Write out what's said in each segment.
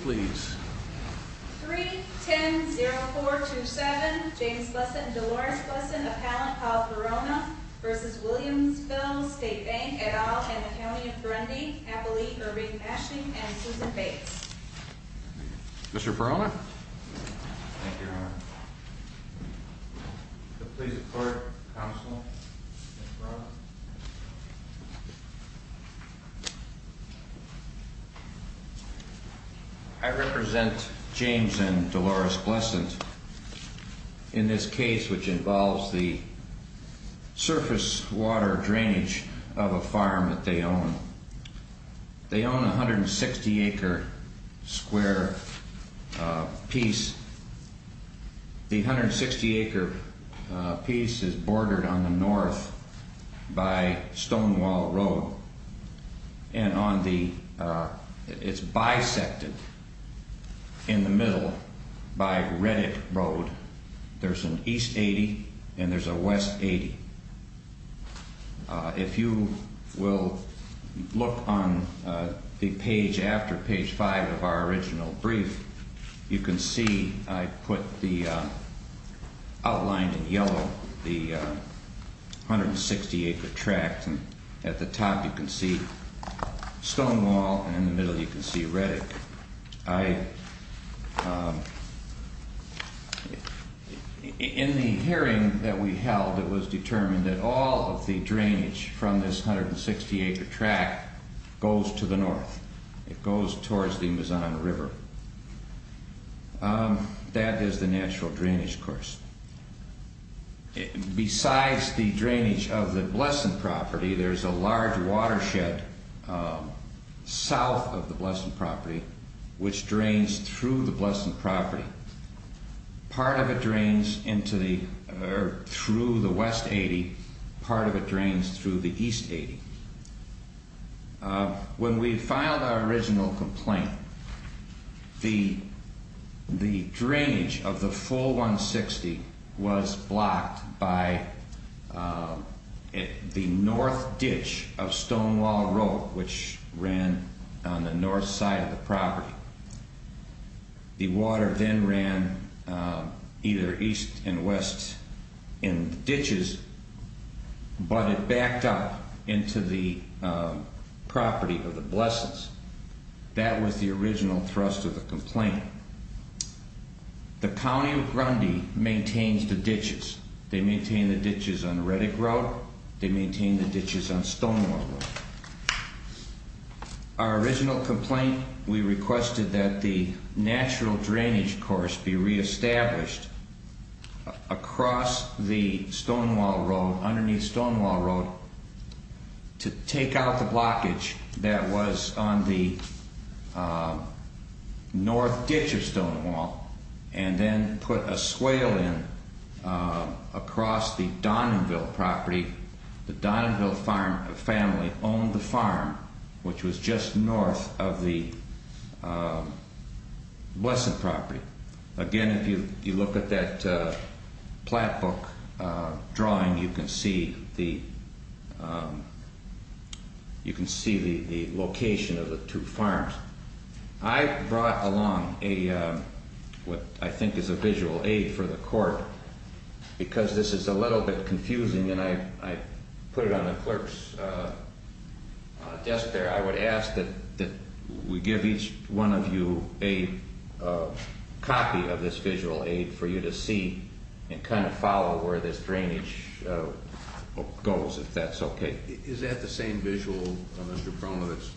310-0427 James Lessen, Delores Lessen, Appellant Paul Perrona v. Williamsville State Bank, et al., Hanna County & Ferrandi, Appellee Irving Mashing, and Susan Bates Mr. Perrona Thank you, Your Honor Mr. Perrona I represent James and Delores Lessen in this case which involves the surface water drainage of a farm that they own. They own a 160-acre square piece. The 160-acre piece is bordered on the north by Stonewall Road and it's bisected in the middle by Reddick Road. There's an East 80 and there's a West 80. If you will look on the page after page 5 of our original brief, you can see I put the outline in yellow, the 160-acre tract, and at the top you can see Stonewall and in the middle you can see Reddick. In the hearing that we held, it was determined that all of the drainage from this 160-acre tract goes to the north. It goes towards the Mizan River. That is the natural drainage course. Besides the drainage of the Lessen property, there's a large watershed south of the Lessen property which drains through the Lessen property. Part of it drains through the West 80, part of it drains through the East 80. When we filed our original complaint, the drainage of the full 160 was blocked by the north ditch of Stonewall Road which ran on the north side of the property. The water then ran either east and west in ditches, but it backed up into the property of the Blessens. That was the original thrust of the complaint. The County of Grundy maintains the ditches. They maintain the ditches on Reddick Road. They maintain the ditches on Stonewall Road. Our original complaint, we requested that the natural drainage course be re-established across the Stonewall Road, underneath Stonewall Road, to take out the blockage that was on the north ditch of Stonewall, and then put a swale in across the Donanville property. The Donanville family owned the farm which was just north of the Lessen property. Again, if you look at that plat book drawing, you can see the location of the two farms. I brought along what I think is a visual aid for the court, because this is a little bit confusing, and I put it on the clerk's desk there. I would ask that we give each one of you a copy of this visual aid for you to see and kind of follow where this drainage goes, if that's okay. Is that the same visual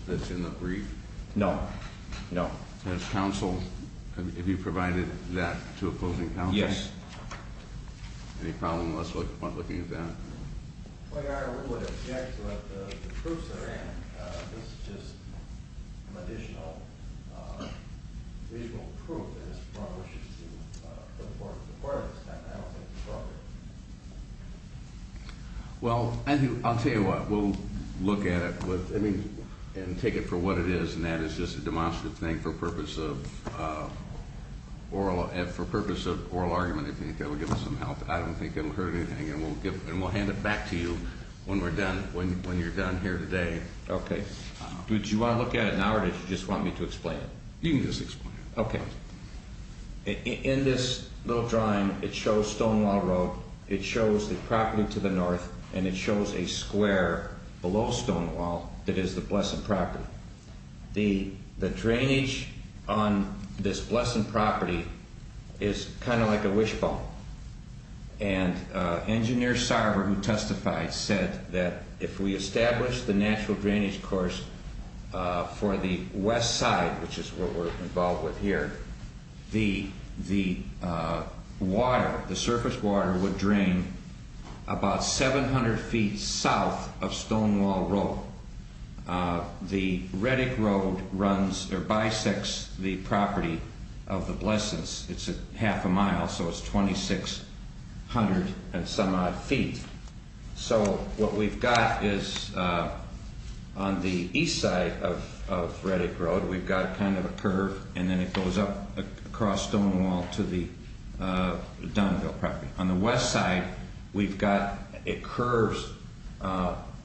that's in the brief? No. Have you provided that to a closing counsel? Yes. Any problem with us looking at that? I would object to the proofs that are in. This is just additional proof that it's appropriate for the court to require this. I don't think it's appropriate. Well, I'll tell you what. We'll look at it and take it for what it is, and that is just a demonstrative thing for purpose of oral argument, if you think that will give us some help. I don't think it will hurt anything, and we'll hand it back to you when you're done here today. Okay. Do you want to look at it now, or did you just want me to explain it? You can just explain it. Okay. In this little drawing, it shows Stonewall Road, it shows the property to the north, and it shows a square below Stonewall that is the Blessing property. The drainage on this Blessing property is kind of like a wishbone, and Engineer Sarver, who testified, said that if we establish the natural drainage course for the west side, which is what we're involved with here, the water, the surface water would drain about 700 feet south of Stonewall Road. The Reddick Road bisects the property of the Blessings. It's half a mile, so it's 2,600 and some odd feet. So what we've got is on the east side of Reddick Road, we've got kind of a curve, and then it goes up across Stonewall to the Donville property. On the west side, we've got, it curves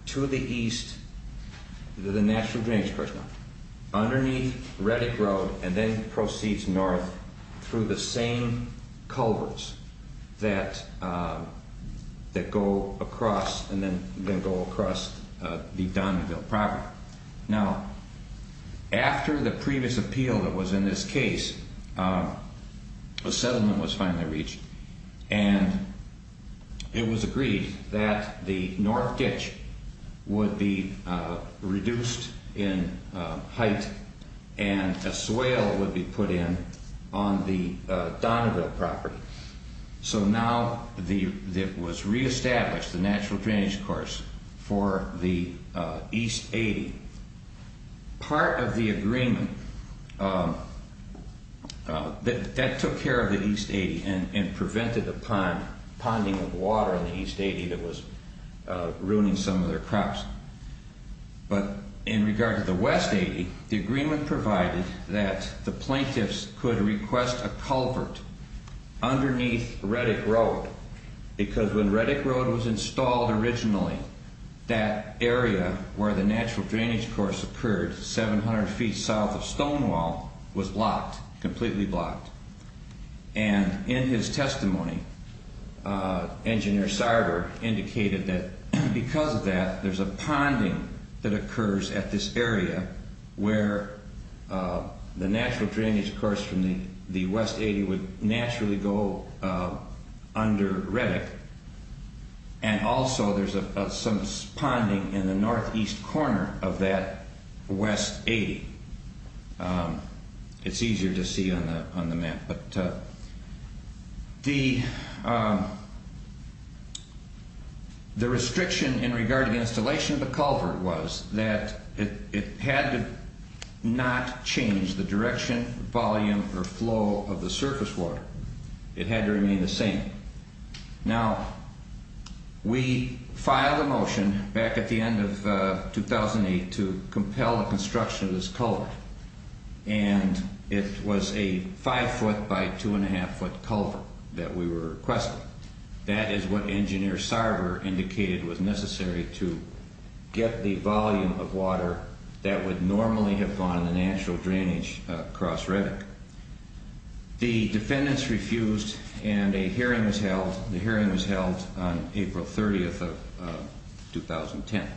to the east, the natural drainage course, underneath Reddick Road, and then proceeds north through the same culverts that go across the Donville property. Now, after the previous appeal that was in this case, a settlement was finally reached, and it was agreed that the north ditch would be reduced in height, and a swale would be put in on the Donville property. So now it was reestablished, the natural drainage course, for the east 80. Part of the agreement, that took care of the east 80 and prevented the ponding of water in the east 80 that was ruining some of their crops. But in regard to the west 80, the agreement provided that the plaintiffs could request a culvert underneath Reddick Road, because when Reddick Road was installed originally, that area where the natural drainage course occurred, 700 feet south of Stonewall, was blocked, completely blocked. And in his testimony, Engineer Sarver indicated that because of that, there's a ponding that occurs at this area where the natural drainage course from the west 80 would naturally go under Reddick, and also there's some ponding in the northeast corner of that west 80. It's easier to see on the map, but the restriction in regard to the installation of the culvert was that it had to not change the direction, volume, or flow of the surface water. It had to remain the same. Now, we filed a motion back at the end of 2008 to compel the construction of this culvert, and it was a five foot by two and a half foot culvert that we were requesting. That is what Engineer Sarver indicated was necessary to get the volume of water that would normally have gone in the natural drainage across Reddick. The defendants refused, and a hearing was held. The hearing was held on April 30th of 2010.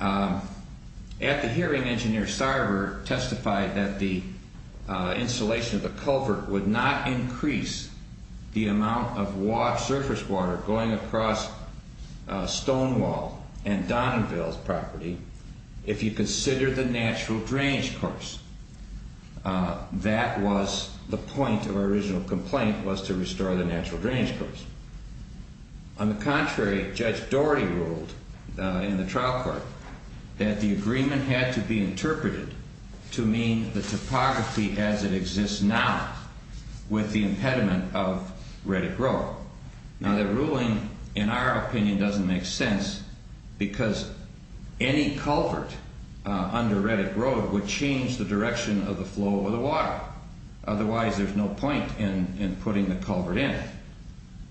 At the hearing, Engineer Sarver testified that the installation of the culvert would not increase the amount of washed surface water going across Stonewall and Donovanville's property if you consider the natural drainage course. That was the point of our original complaint, was to restore the natural drainage course. On the contrary, Judge Doherty ruled in the trial court that the agreement had to be interpreted to mean the topography as it exists now with the impediment of Reddick Road. Now, that ruling, in our opinion, doesn't make sense because any culvert under Reddick Road would change the direction of the flow of the water. Otherwise, there's no point in putting the culvert in.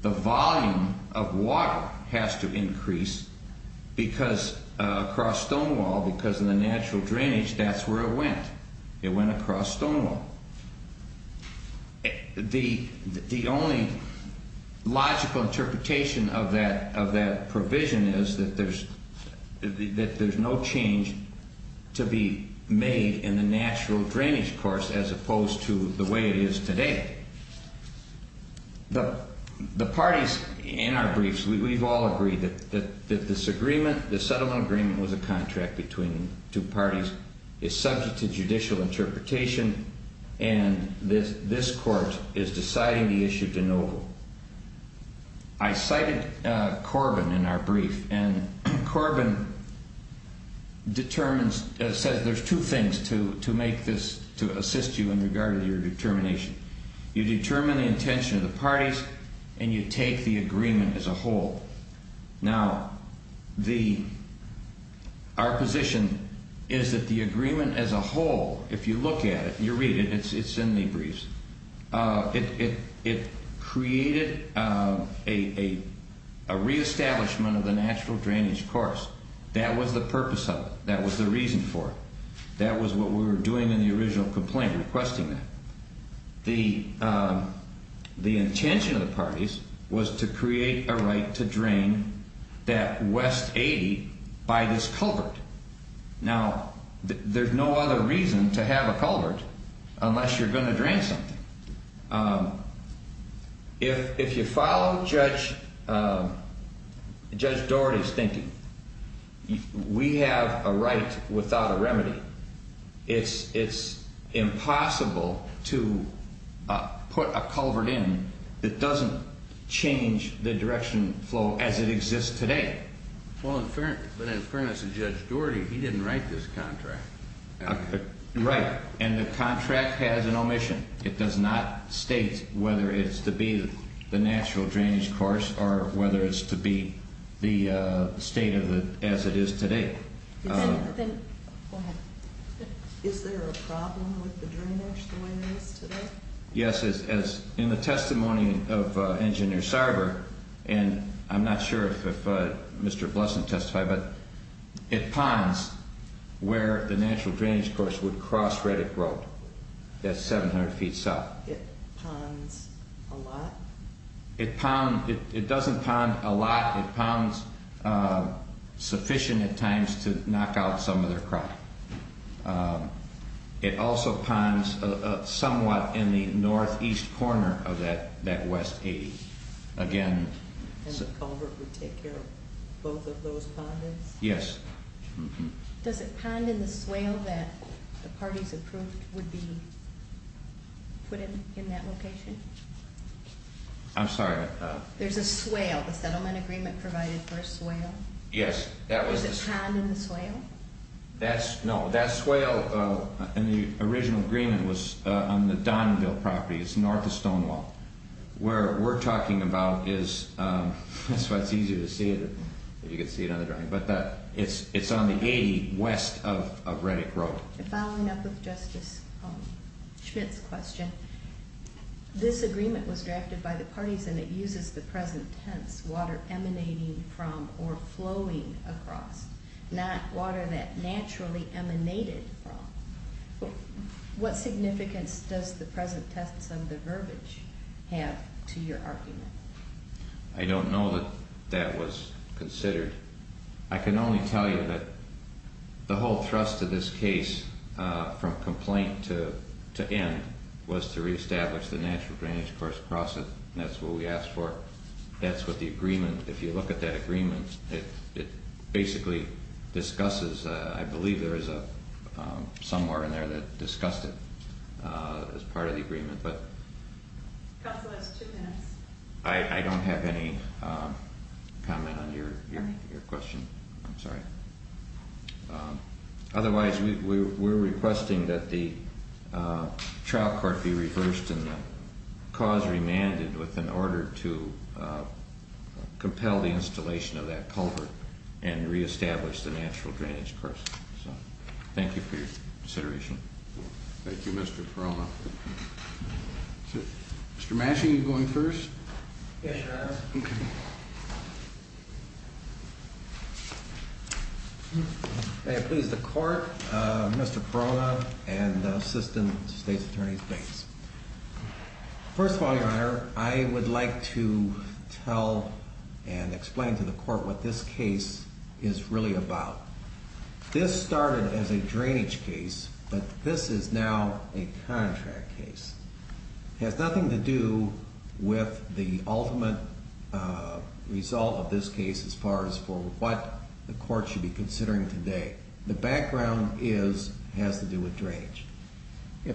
The volume of water has to increase because across Stonewall, because of the natural drainage, that's where it went. It went across Stonewall. The only logical interpretation of that provision is that there's no change to be made in the natural drainage course as opposed to the way it is today. The parties in our briefs, we've all agreed that this settlement agreement was a contract between two parties. It's subject to judicial interpretation, and this court is deciding the issue of Donovanville. I cited Corbin in our brief, and Corbin says there's two things to assist you in regard to your determination. You determine the intention of the parties, and you take the agreement as a whole. Now, our position is that the agreement as a whole, if you look at it, you read it, it's in the briefs. It created a reestablishment of the natural drainage course. That was the purpose of it. That was the reason for it. That was what we were doing in the original complaint, requesting that. The intention of the parties was to create a right to drain that West 80 by this culvert. Now, there's no other reason to have a culvert unless you're going to drain something. If you follow Judge Dougherty's thinking, we have a right without a remedy. It's impossible to put a culvert in that doesn't change the direction flow as it exists today. Well, in fairness to Judge Dougherty, he didn't write this contract. Right, and the contract has an omission. It does not state whether it's to be the natural drainage course or whether it's to be the state as it is today. Go ahead. Is there a problem with the drainage the way it is today? Yes. In the testimony of Engineer Sarver, and I'm not sure if Mr. Blesson testified, but it ponds where the natural drainage course would cross Reddick Road. That's 700 feet south. It ponds a lot? It doesn't pond a lot. It ponds sufficient at times to knock out some of their crop. It also ponds somewhat in the northeast corner of that West 80. And the culvert would take care of both of those pondings? Yes. Does it pond in the swale that the parties approved would be put in that location? I'm sorry? There's a swale. The settlement agreement provided for a swale. Yes. Does it pond in the swale? No. That swale in the original agreement was on the Donville property. It's north of Stonewall. Where we're talking about is, that's why it's easier to see it if you can see it on the drainage, but it's on the 80 west of Reddick Road. Following up with Justice Schmidt's question, this agreement was drafted by the parties and it uses the present tense, water emanating from or flowing across, not water that naturally emanated from. What significance does the present tense and the verbiage have to your argument? I don't know that that was considered. I can only tell you that the whole thrust of this case, from complaint to end, was to reestablish the natural drainage course across it. That's what we asked for. That's what the agreement, if you look at that agreement, it basically discusses, I believe there is somewhere in there that discussed it as part of the agreement. Counsel, that's two minutes. I don't have any comment on your question. I'm sorry. Otherwise, we're requesting that the trial court be reversed and the cause remanded in order to compel the installation of that culvert and reestablish the natural drainage course. Thank you for your consideration. Thank you, Mr. Perrona. Mr. Massey, are you going first? Yes, Your Honor. May it please the Court, Mr. Perrona and the Assistant State's Attorney, please. First of all, Your Honor, I would like to tell and explain to the Court what this case is really about. This started as a drainage case, but this is now a contract case. It has nothing to do with the ultimate result of this case as far as for what the Court should be considering today. If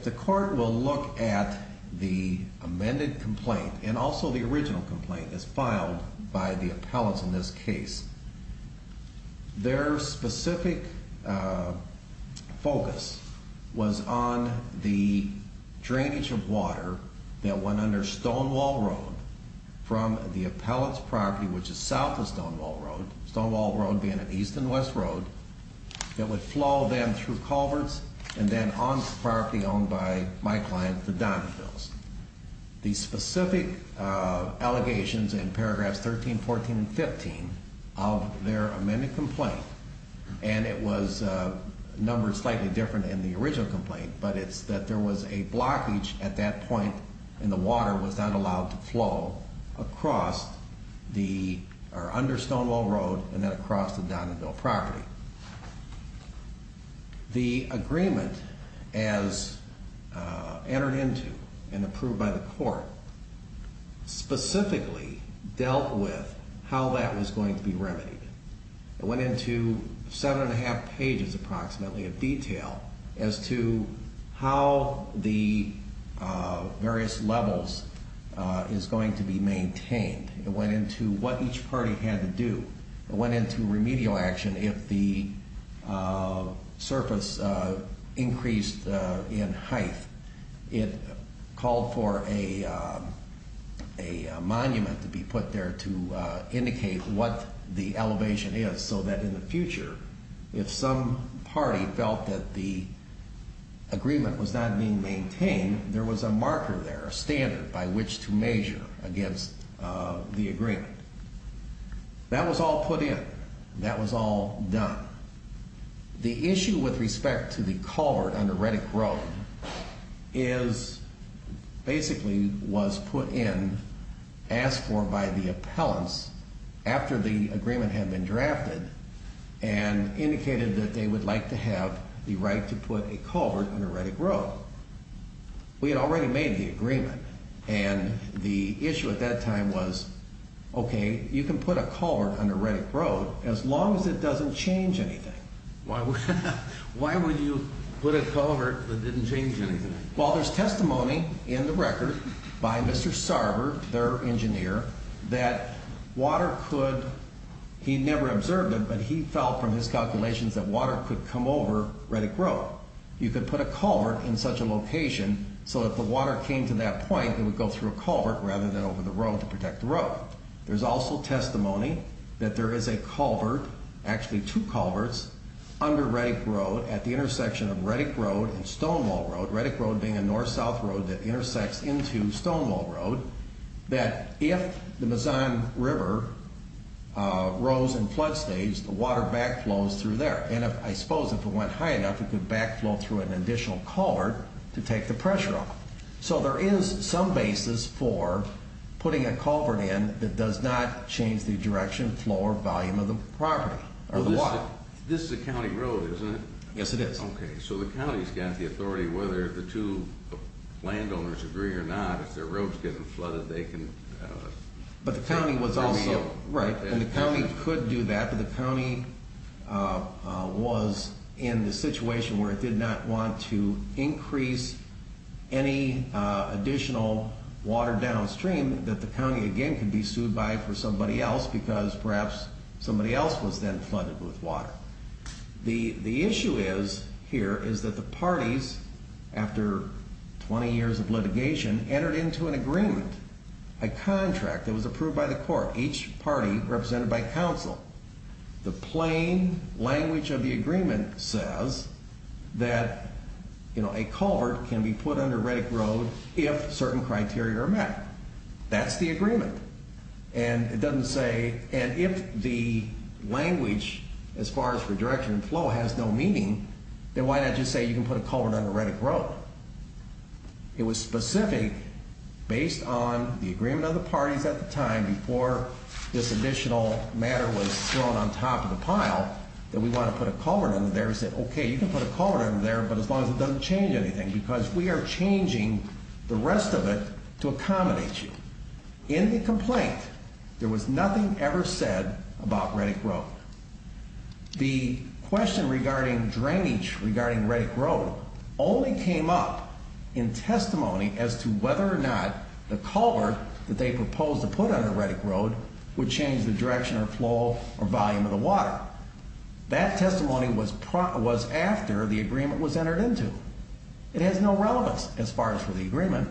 the Court will look at the amended complaint and also the original complaint that's filed by the appellate in this case, their specific focus was on the drainage of water that went under Stonewall Road from the appellate's property, which is south of Stonewall Road, Stonewall Road being an east and west road, that would flow then through culverts and then on to the property owned by my client, the Donnevilles. The specific allegations in paragraphs 13, 14, and 15 of their amended complaint, and it was numbered slightly different in the original complaint, but it's that there was a blockage at that point and the water was not allowed to flow across or under Stonewall Road and then across the Donneville property. The agreement as entered into and approved by the Court specifically dealt with how that was going to be remedied. It went into seven and a half pages approximately of detail as to how the various levels is going to be maintained. It went into what each party had to do. It went into remedial action if the surface increased in height. It called for a monument to be put there to indicate what the elevation is so that in the future, if some party felt that the agreement was not being maintained, there was a marker there, a standard by which to measure against the agreement. That was all put in. That was all done. The issue with respect to the culvert under Reddick Road is basically was put in, asked for by the appellants after the agreement had been drafted, and indicated that they would like to have the right to put a culvert under Reddick Road. We had already made the agreement, and the issue at that time was, okay, you can put a culvert under Reddick Road as long as it doesn't change anything. Why would you put a culvert that didn't change anything? Well, there's testimony in the record by Mr. Sarver, their engineer, that water could, he never observed it, but he felt from his calculations that water could come over Reddick Road. You could put a culvert in such a location so that if the water came to that point, it would go through a culvert rather than over the road to protect the road. There's also testimony that there is a culvert, actually two culverts, under Reddick Road at the intersection of Reddick Road and Stonewall Road, Reddick Road being a north-south road that intersects into Stonewall Road, that if the Mazan River rose in flood stage, the water backflows through there. And I suppose if it went high enough, it could backflow through an additional culvert to take the pressure off. So there is some basis for putting a culvert in that does not change the direction, flow, or volume of the property, or the water. This is a county road, isn't it? Yes, it is. Okay, so the county's got the authority, whether the two landowners agree or not, if their road's getting flooded, they can... But the county was also... Right, and the county could do that, but the county was in the situation where it did not want to increase any additional water downstream that the county, again, could be sued by for somebody else because perhaps somebody else was then flooded with water. The issue is, here, is that the parties, after 20 years of litigation, entered into an agreement, a contract that was approved by the court, each party represented by counsel. The plain language of the agreement says that a culvert can be put under Reddick Road if certain criteria are met. That's the agreement. And it doesn't say... And if the language, as far as for direction and flow, has no meaning, then why not just say you can put a culvert under Reddick Road? It was specific, based on the agreement of the parties at the time, before this additional matter was thrown on top of the pile, that we wanted to put a culvert under there. We said, okay, you can put a culvert under there, but as long as it doesn't change anything, because we are changing the rest of it to accommodate you. In the complaint, there was nothing ever said about Reddick Road. The question regarding drainage, regarding Reddick Road, only came up in testimony as to whether or not the culvert that they proposed to put under Reddick Road would change the direction or flow or volume of the water. That testimony was after the agreement was entered into. It has no relevance, as far as for the agreement.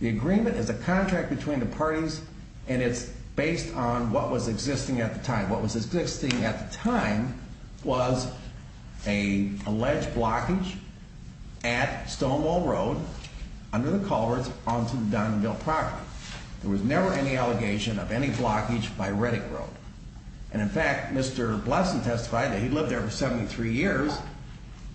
The agreement is a contract between the parties, and it's based on what was existing at the time, what was existing at the time, was an alleged blockage at Stonewall Road, under the culverts, onto the Diamondville property. There was never any allegation of any blockage by Reddick Road. And in fact, Mr. Blesson testified that he lived there for 73 years.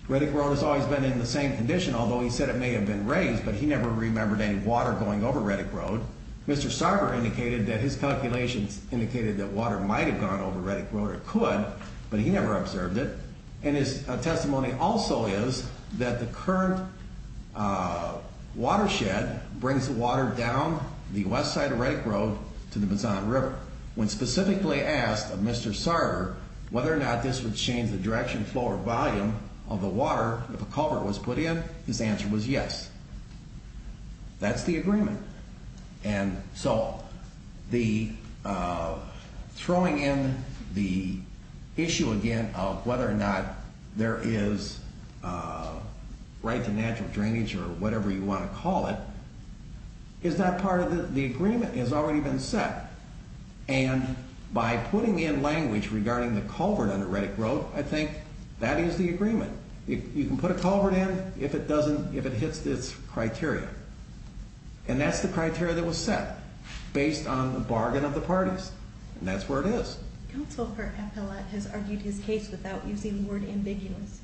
Reddick Road has always been in the same condition, although he said it may have been raised, but he never remembered any water going over Reddick Road. Mr. Sarger indicated that his calculations indicated that water might have gone over Reddick Road, or it could, but he never observed it. And his testimony also is that the current watershed brings water down the west side of Reddick Road to the Bezan River. When specifically asked of Mr. Sarger whether or not this would change the direction, flow, or volume of the water if a culvert was put in, his answer was yes. That's the agreement. And so throwing in the issue again of whether or not there is right to natural drainage, or whatever you want to call it, is not part of the agreement. It has already been set. And by putting in language regarding the culvert under Reddick Road, I think that is the agreement. You can put a culvert in if it hits its criteria. And that's the criteria that was set, based on the bargain of the parties. And that's where it is. Counsel for Appellate has argued his case without using the word ambiguous.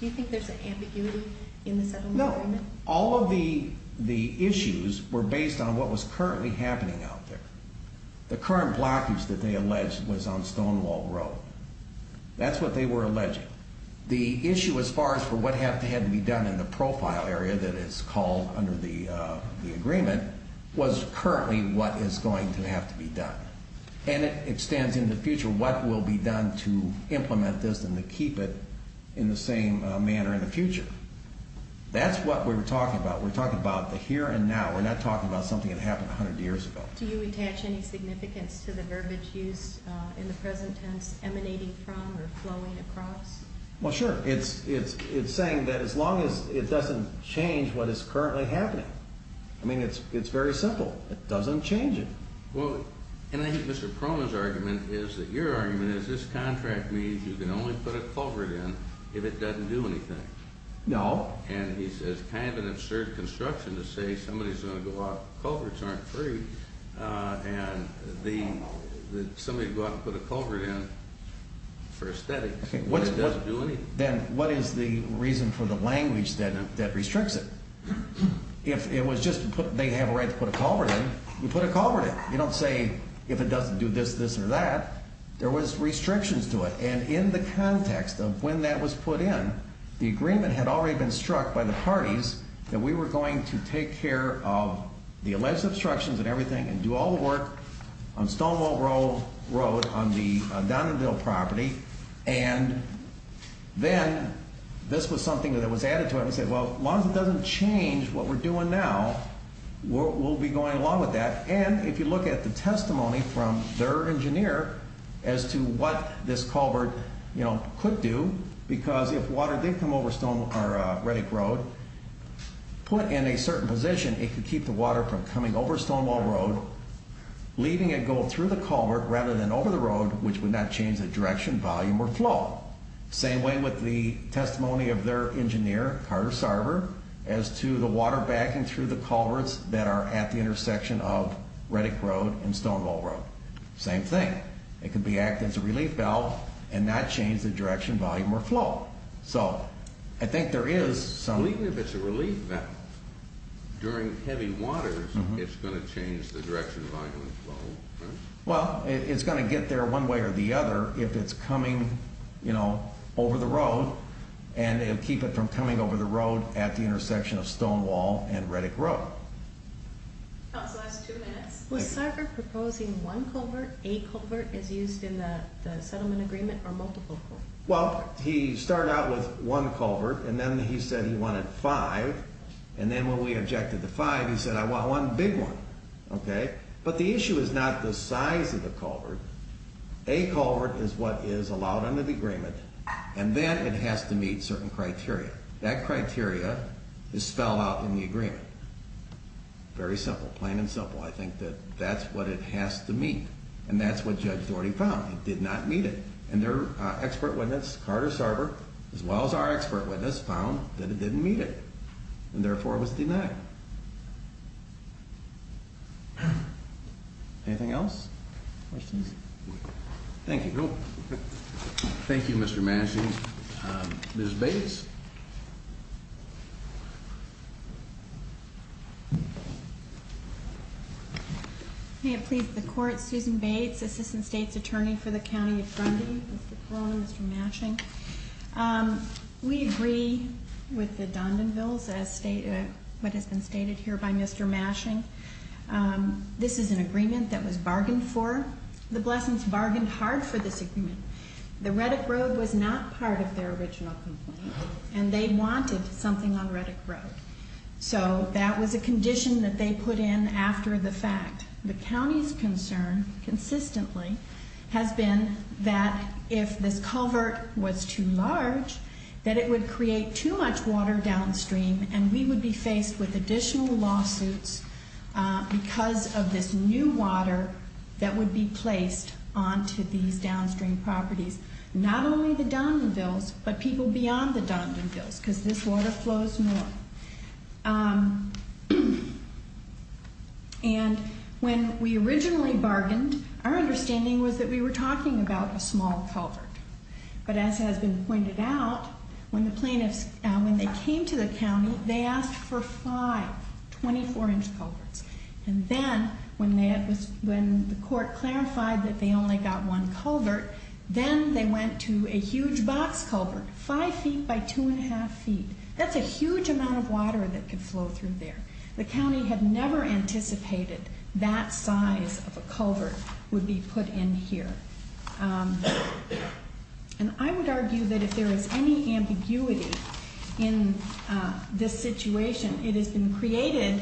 Do you think there's an ambiguity in the settlement agreement? No. All of the issues were based on what was currently happening out there. The current blockage that they alleged was on Stonewall Road. That's what they were alleging. The issue as far as for what had to be done in the profile area that is called under the agreement, was currently what is going to have to be done. And it stands in the future what will be done to implement this and to keep it in the same manner in the future. That's what we're talking about. We're talking about the here and now. We're not talking about something that happened 100 years ago. Do you attach any significance to the verbiage used in the present tense emanating from or flowing across? Well, sure. It's saying that as long as it doesn't change what is currently happening. I mean, it's very simple. It doesn't change it. And I think Mr. Proma's argument is that your argument is this contract means you can only put a culvert in if it doesn't do anything. No. And he's kind of an absurd construction to say somebody's going to go out and culverts aren't free and somebody's going to go out and put a culvert in for aesthetics when it doesn't do anything. Then what is the reason for the language that restricts it? If it was just they have a right to put a culvert in, you put a culvert in. You don't say if it doesn't do this, this or that. There was restrictions to it. And in the context of when that was put in, the agreement had already been struck by the parties that we were going to take care of the alleged obstructions and everything and do all the work on Stonewall Road on the Donovanville property and then this was something that was added to it. We said as long as it doesn't change what we're doing now, we'll be going along with that. And if you look at the testimony from their engineer as to what this culvert could do, because if water did come over Reddick Road, put in a certain position, it could keep the water from coming over Stonewall Road, leaving it go through the culvert rather than over the road according to the testimony of their engineer, Carter Sarver, as to the water backing through the culverts that are at the intersection of Reddick Road and Stonewall Road. Same thing. It could act as a relief valve and not change the direction, volume, or flow. So I think there is some... Even if it's a relief valve during heavy waters, it's going to change the direction of the flow and it'll keep it from coming over the road at the intersection of Stonewall and Reddick Road. Was Sarver proposing one culvert, a culvert, as used in the settlement agreement or multiple culverts? Well, he started out with one culvert and then he said he wanted five. And then when we objected to five, he said I want one big one. But the issue is not the size of the culvert. It has to meet certain criteria. That criteria is spelled out in the agreement. Very simple, plain and simple. I think that that's what it has to meet. And that's what Judge Daugherty found. It did not meet it. And their expert witness, Carter Sarver, as well as our expert witness, found that it didn't meet it and therefore was denied. Anything else? Questions? Thank you. Ms. Bates. May it please the Court, Susan Bates, Assistant State's Attorney for the County of Grundy. Mr. Crowley, Mr. Mashing. We agree with the Dondonvilles as stated, what has been stated here by Mr. Mashing. This is an agreement that was bargained for. The Blessings bargained hard for this agreement. There was no additional complaint and they wanted something on Reddick Road. So that was a condition that they put in after the fact. The county's concern consistently has been that if this culvert was too large, that it would create too much water downstream and we would be faced with additional lawsuits because of this new water that would be placed onto these downstream properties. Not only the Dondonvilles but people beyond the Dondonvilles because this water flows north. And when we originally bargained, our understanding was that we were talking about a small culvert. But as has been pointed out, when the plaintiffs, when they came to the county, they asked for five 24-inch culverts. And then when they, when the court clarified that they only got one culvert, then they went to a huge box culvert, five feet by two and a half feet. That's a huge amount of water that could flow through there. The county had never anticipated that size of a culvert would be put in here. And I would argue that if there is any ambiguity in this situation, it has been created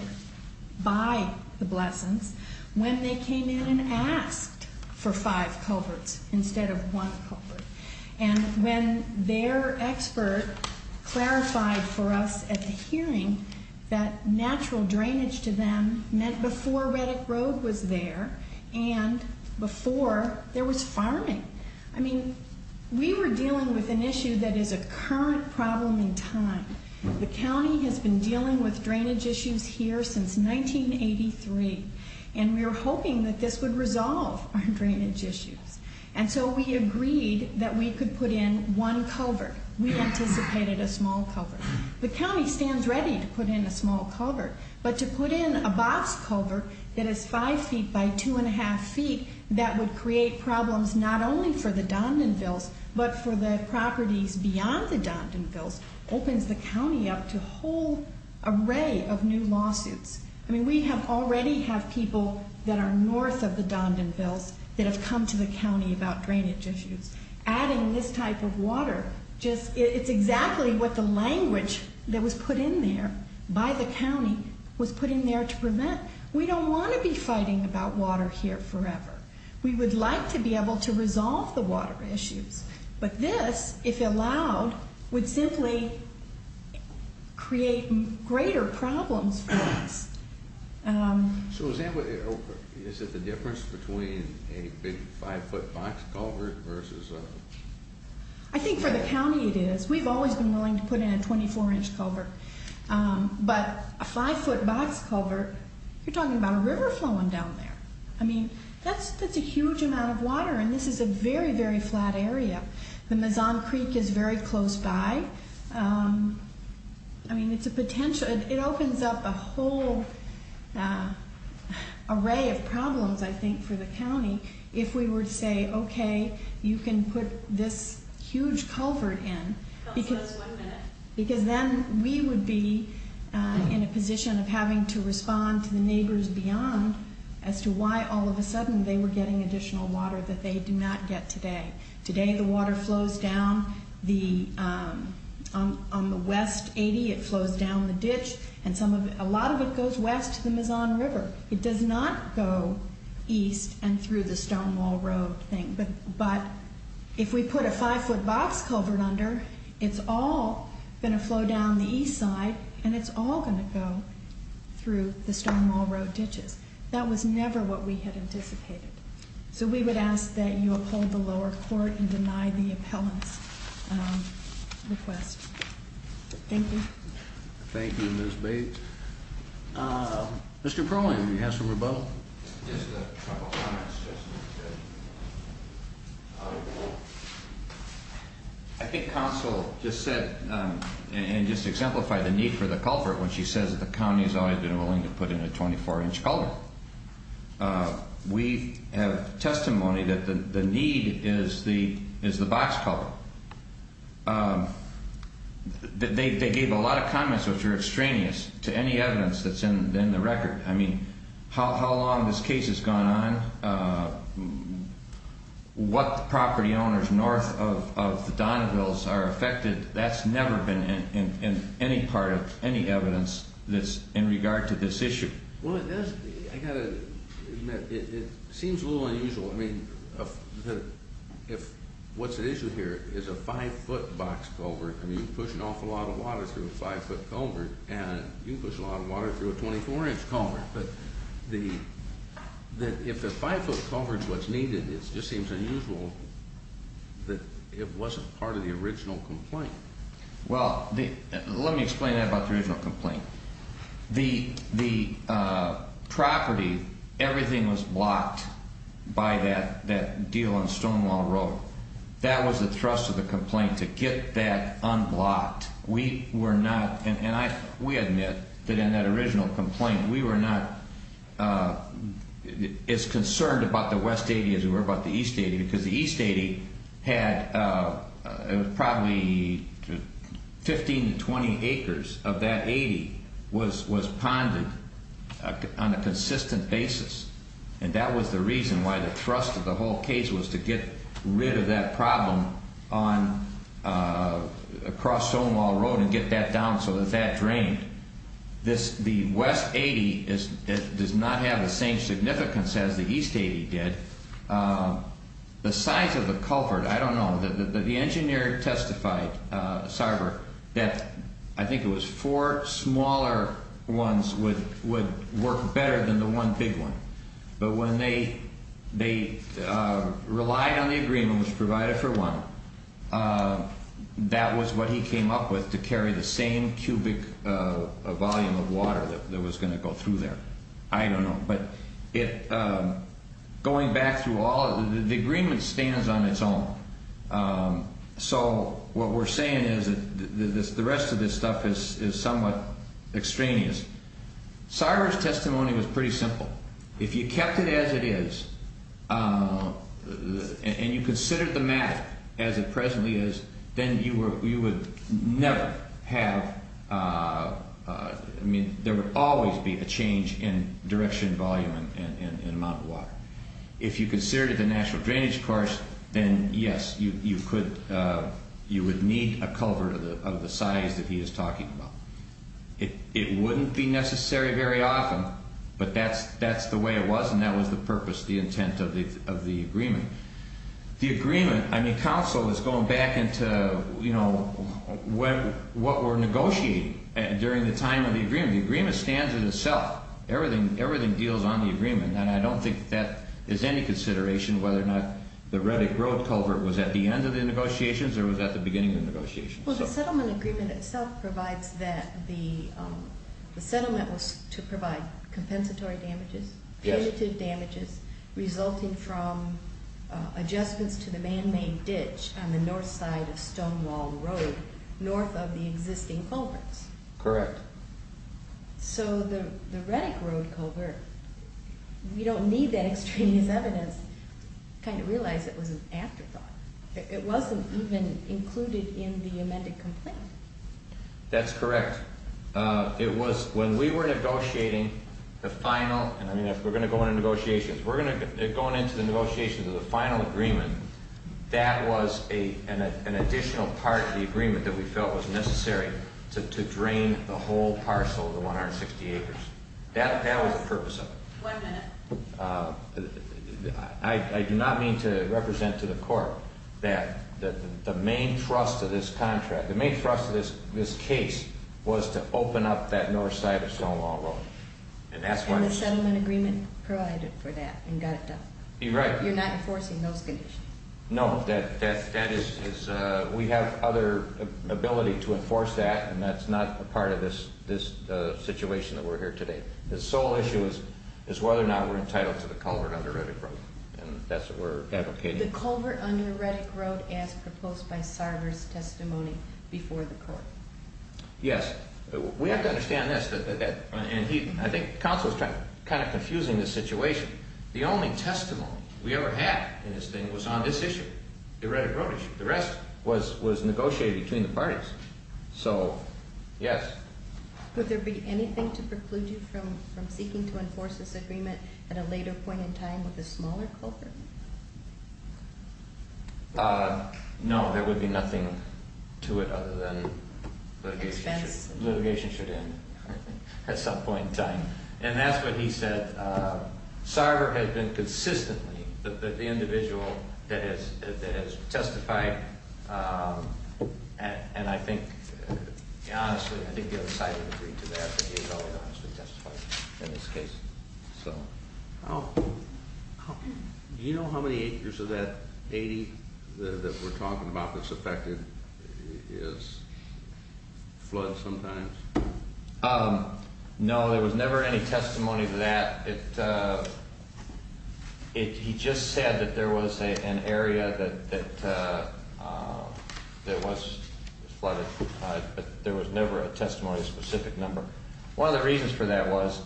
by the Blessons when they came in and asked for five culverts instead of one culvert. And when their expert clarified for us at the hearing that natural drainage to them meant before Reddick Road was there and before there was farming. I mean, we were dealing with an issue that is a current problem in time. The county has been dealing with drainage issues here since 1983. And we were hoping that this would resolve our drainage issues. And so we agreed that we could put in one culvert. We anticipated a small culvert. The county stands ready to put in a small culvert. But to put in a box culvert that is five feet by two and a half feet that would create problems not only for the Dondonvilles but for the properties beyond the Dondonvilles opens the county up to a whole array of new lawsuits. I mean, it's not just north of the Dondonvilles that have come to the county about drainage issues. Adding this type of water, it's exactly what the language that was put in there by the county was put in there to prevent. We don't want to be fighting about water here forever. We would like to be able to resolve the water issues. But this, if allowed, what's the difference between a big five-foot box culvert versus a... I think for the county it is. We've always been willing to put in a 24-inch culvert. But a five-foot box culvert, you're talking about a river flowing down there. I mean, that's a huge amount of water and this is a very, very flat area. The Mazan Creek is very close by. I mean, it's a potential... It opens up a whole array of problems, I think, for the county if we were to say, okay, you can put this huge culvert in. Because then we would be in a position of having to respond to the neighbors beyond as to why all of a sudden they were getting additional water that they do not get today. Today the water flows down on the West 80. It flows down the ditch. It does not request the Mazan River. It does not go east and through the Stonewall Road thing. But if we put a five-foot box culvert under, it's all going to flow down the east side and it's all going to go through the Stonewall Road ditches. That was never what we had anticipated. So we would ask that you uphold the lower court and deny the appellant's request. Thank you. Thank you, Ms. Bates. Mr. Perlman, do you have some rebuttal? I think counsel just said and just exemplified the need for the culvert when she says that the county has always been willing to put in a 24-inch culvert. We have testimony that the need is the box culvert. They gave a lot of comments which were extraneous to any evidence that's in the record. I mean, how long this case has gone on, what the property owners north of Donneville are affected, that's never been in any part of any evidence in regard to this issue. Well, it seems a little unusual. I mean, what's at issue here is a five-foot box culvert. I mean, you push an awful lot of water through a five-foot culvert, and you push a lot of water through a 24-inch culvert. But if a five-foot culvert's what's needed, it just seems unusual that it wasn't part of the original complaint. Well, let me explain that about the original complaint. The property, everything was blocked by that deal on Stonewall Road. That was the thrust of the complaint, to get that unblocked. We were not, and we admit that in that original complaint, we were not as concerned about the West 80 as we were about the East 80, because the East 80 had probably 15 to 20 acres of that 80 was ponded on a consistent basis. And that was the reason why the thrust of the whole case was to get rid of that problem on, across Stonewall Road and get that down so that that drained. The West 80 does not have the same significance as the East 80 did. The size of the culvert, I don't know, the engineer testified, Sarver, that I think it was four smaller ones would work better than the one big one. But when they relied on the agreement, which provided for one, that was what he came up with to carry the same cubic volume of water that was going to go through there. I don't know, but going back through all, the agreement stands on its own. So what we're saying is that the rest of this stuff is somewhat extraneous. Sarver's testimony was pretty simple. If you kept it as it is and you considered the matter as it presently is, then you would never have, I mean, there would always be a change in direction, volume, and amount of water. If you considered the natural drainage course, then yes, you would need a culvert of the size that he is talking about. It wouldn't be necessary very often, but that's the way it was and that was the purpose, the intent of the agreement. The agreement, I mean, counsel is going back into what we're negotiating during the time of the agreement. The agreement stands in itself. Everything deals on the agreement and I don't think that is any consideration whether or not the Reddick Road culvert was at the end of the negotiations or was at the beginning of the negotiations. Well, the settlement agreement itself provides that the settlement was to provide compensatory damages, punitive damages, resulting from adjustments to the man-made ditch on the north side of Stonewall Road north of the existing culverts. Correct. So the Reddick Road culvert, we don't need that extremist evidence. It should be in the amended complaint. That's correct. It was when we were negotiating the final, and we're going to go into negotiations, we're going into the negotiations of the final agreement. That was an additional part of the agreement that we felt was necessary to drain the whole parcel of the 160 acres. That was the purpose of it. One minute. I do not mean to represent to the court that the main thrust of this contract, the main thrust of this case was to open up that north side of Stonewall Road. And the settlement agreement provided for that and got it done. You're right. You're not enforcing those conditions. No. That is, we have other ability to enforce that and that's not a part of this situation that we're here today. The sole issue is whether or not we're entitled to the culvert under Reddick Road. And that's what we're advocating. The culvert under Reddick Road as proposed by Sarver's testimony before the court. Yes. We have to understand this. And I think Counsel is kind of confusing this situation. The only testimony we ever had in this thing was on this issue, the Reddick Road issue. The rest was negotiated between the parties. So, yes. Would there be anything to preclude you from seeking to enforce this agreement at a later point in time with a smaller culvert? No. There would be nothing to it other than litigation should end at some point in time. And that's what he said. Sarver has been consistently the individual that has testified and I think honestly, I think the other side would agree to that that he has always honestly testified in this case. So. Do you know how many acres of that 80 that we're talking about that's affected is flooded sometimes? No, there was never any testimony to that. He just said that there was an area that was flooded but there was never a testimony of a specific number. One of the reasons for that was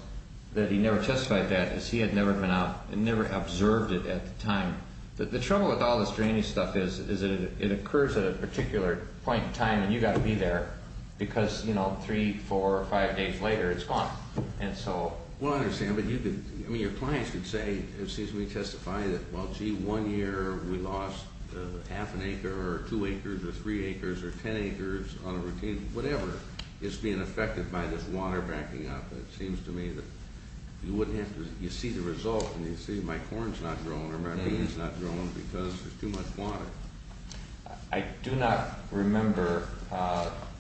that he never testified that as he had never been out and never observed it at the time. The trouble with all this drainage stuff is that it occurs at a particular point in time and you've got to be there because, you know, three, four, five days later it's gone. And so. Well, I understand but you could, I mean, your clients could say excuse me, testify that well, gee, one year we lost half an acre or two acres or three acres or 10 acres on a routine, whatever is being affected by this water backing up. It seems to me that you wouldn't have to, you see the result and you see my corn's not growing or my bean's not growing because there's too much water. I do not remember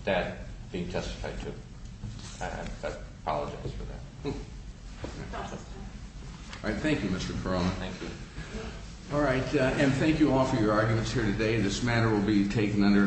that being testified to. I apologize for that. All right. Thank you. All right. And thank you all for your arguments here today. This matter will be taken under advisement of the Attorney General of the United States Thank you.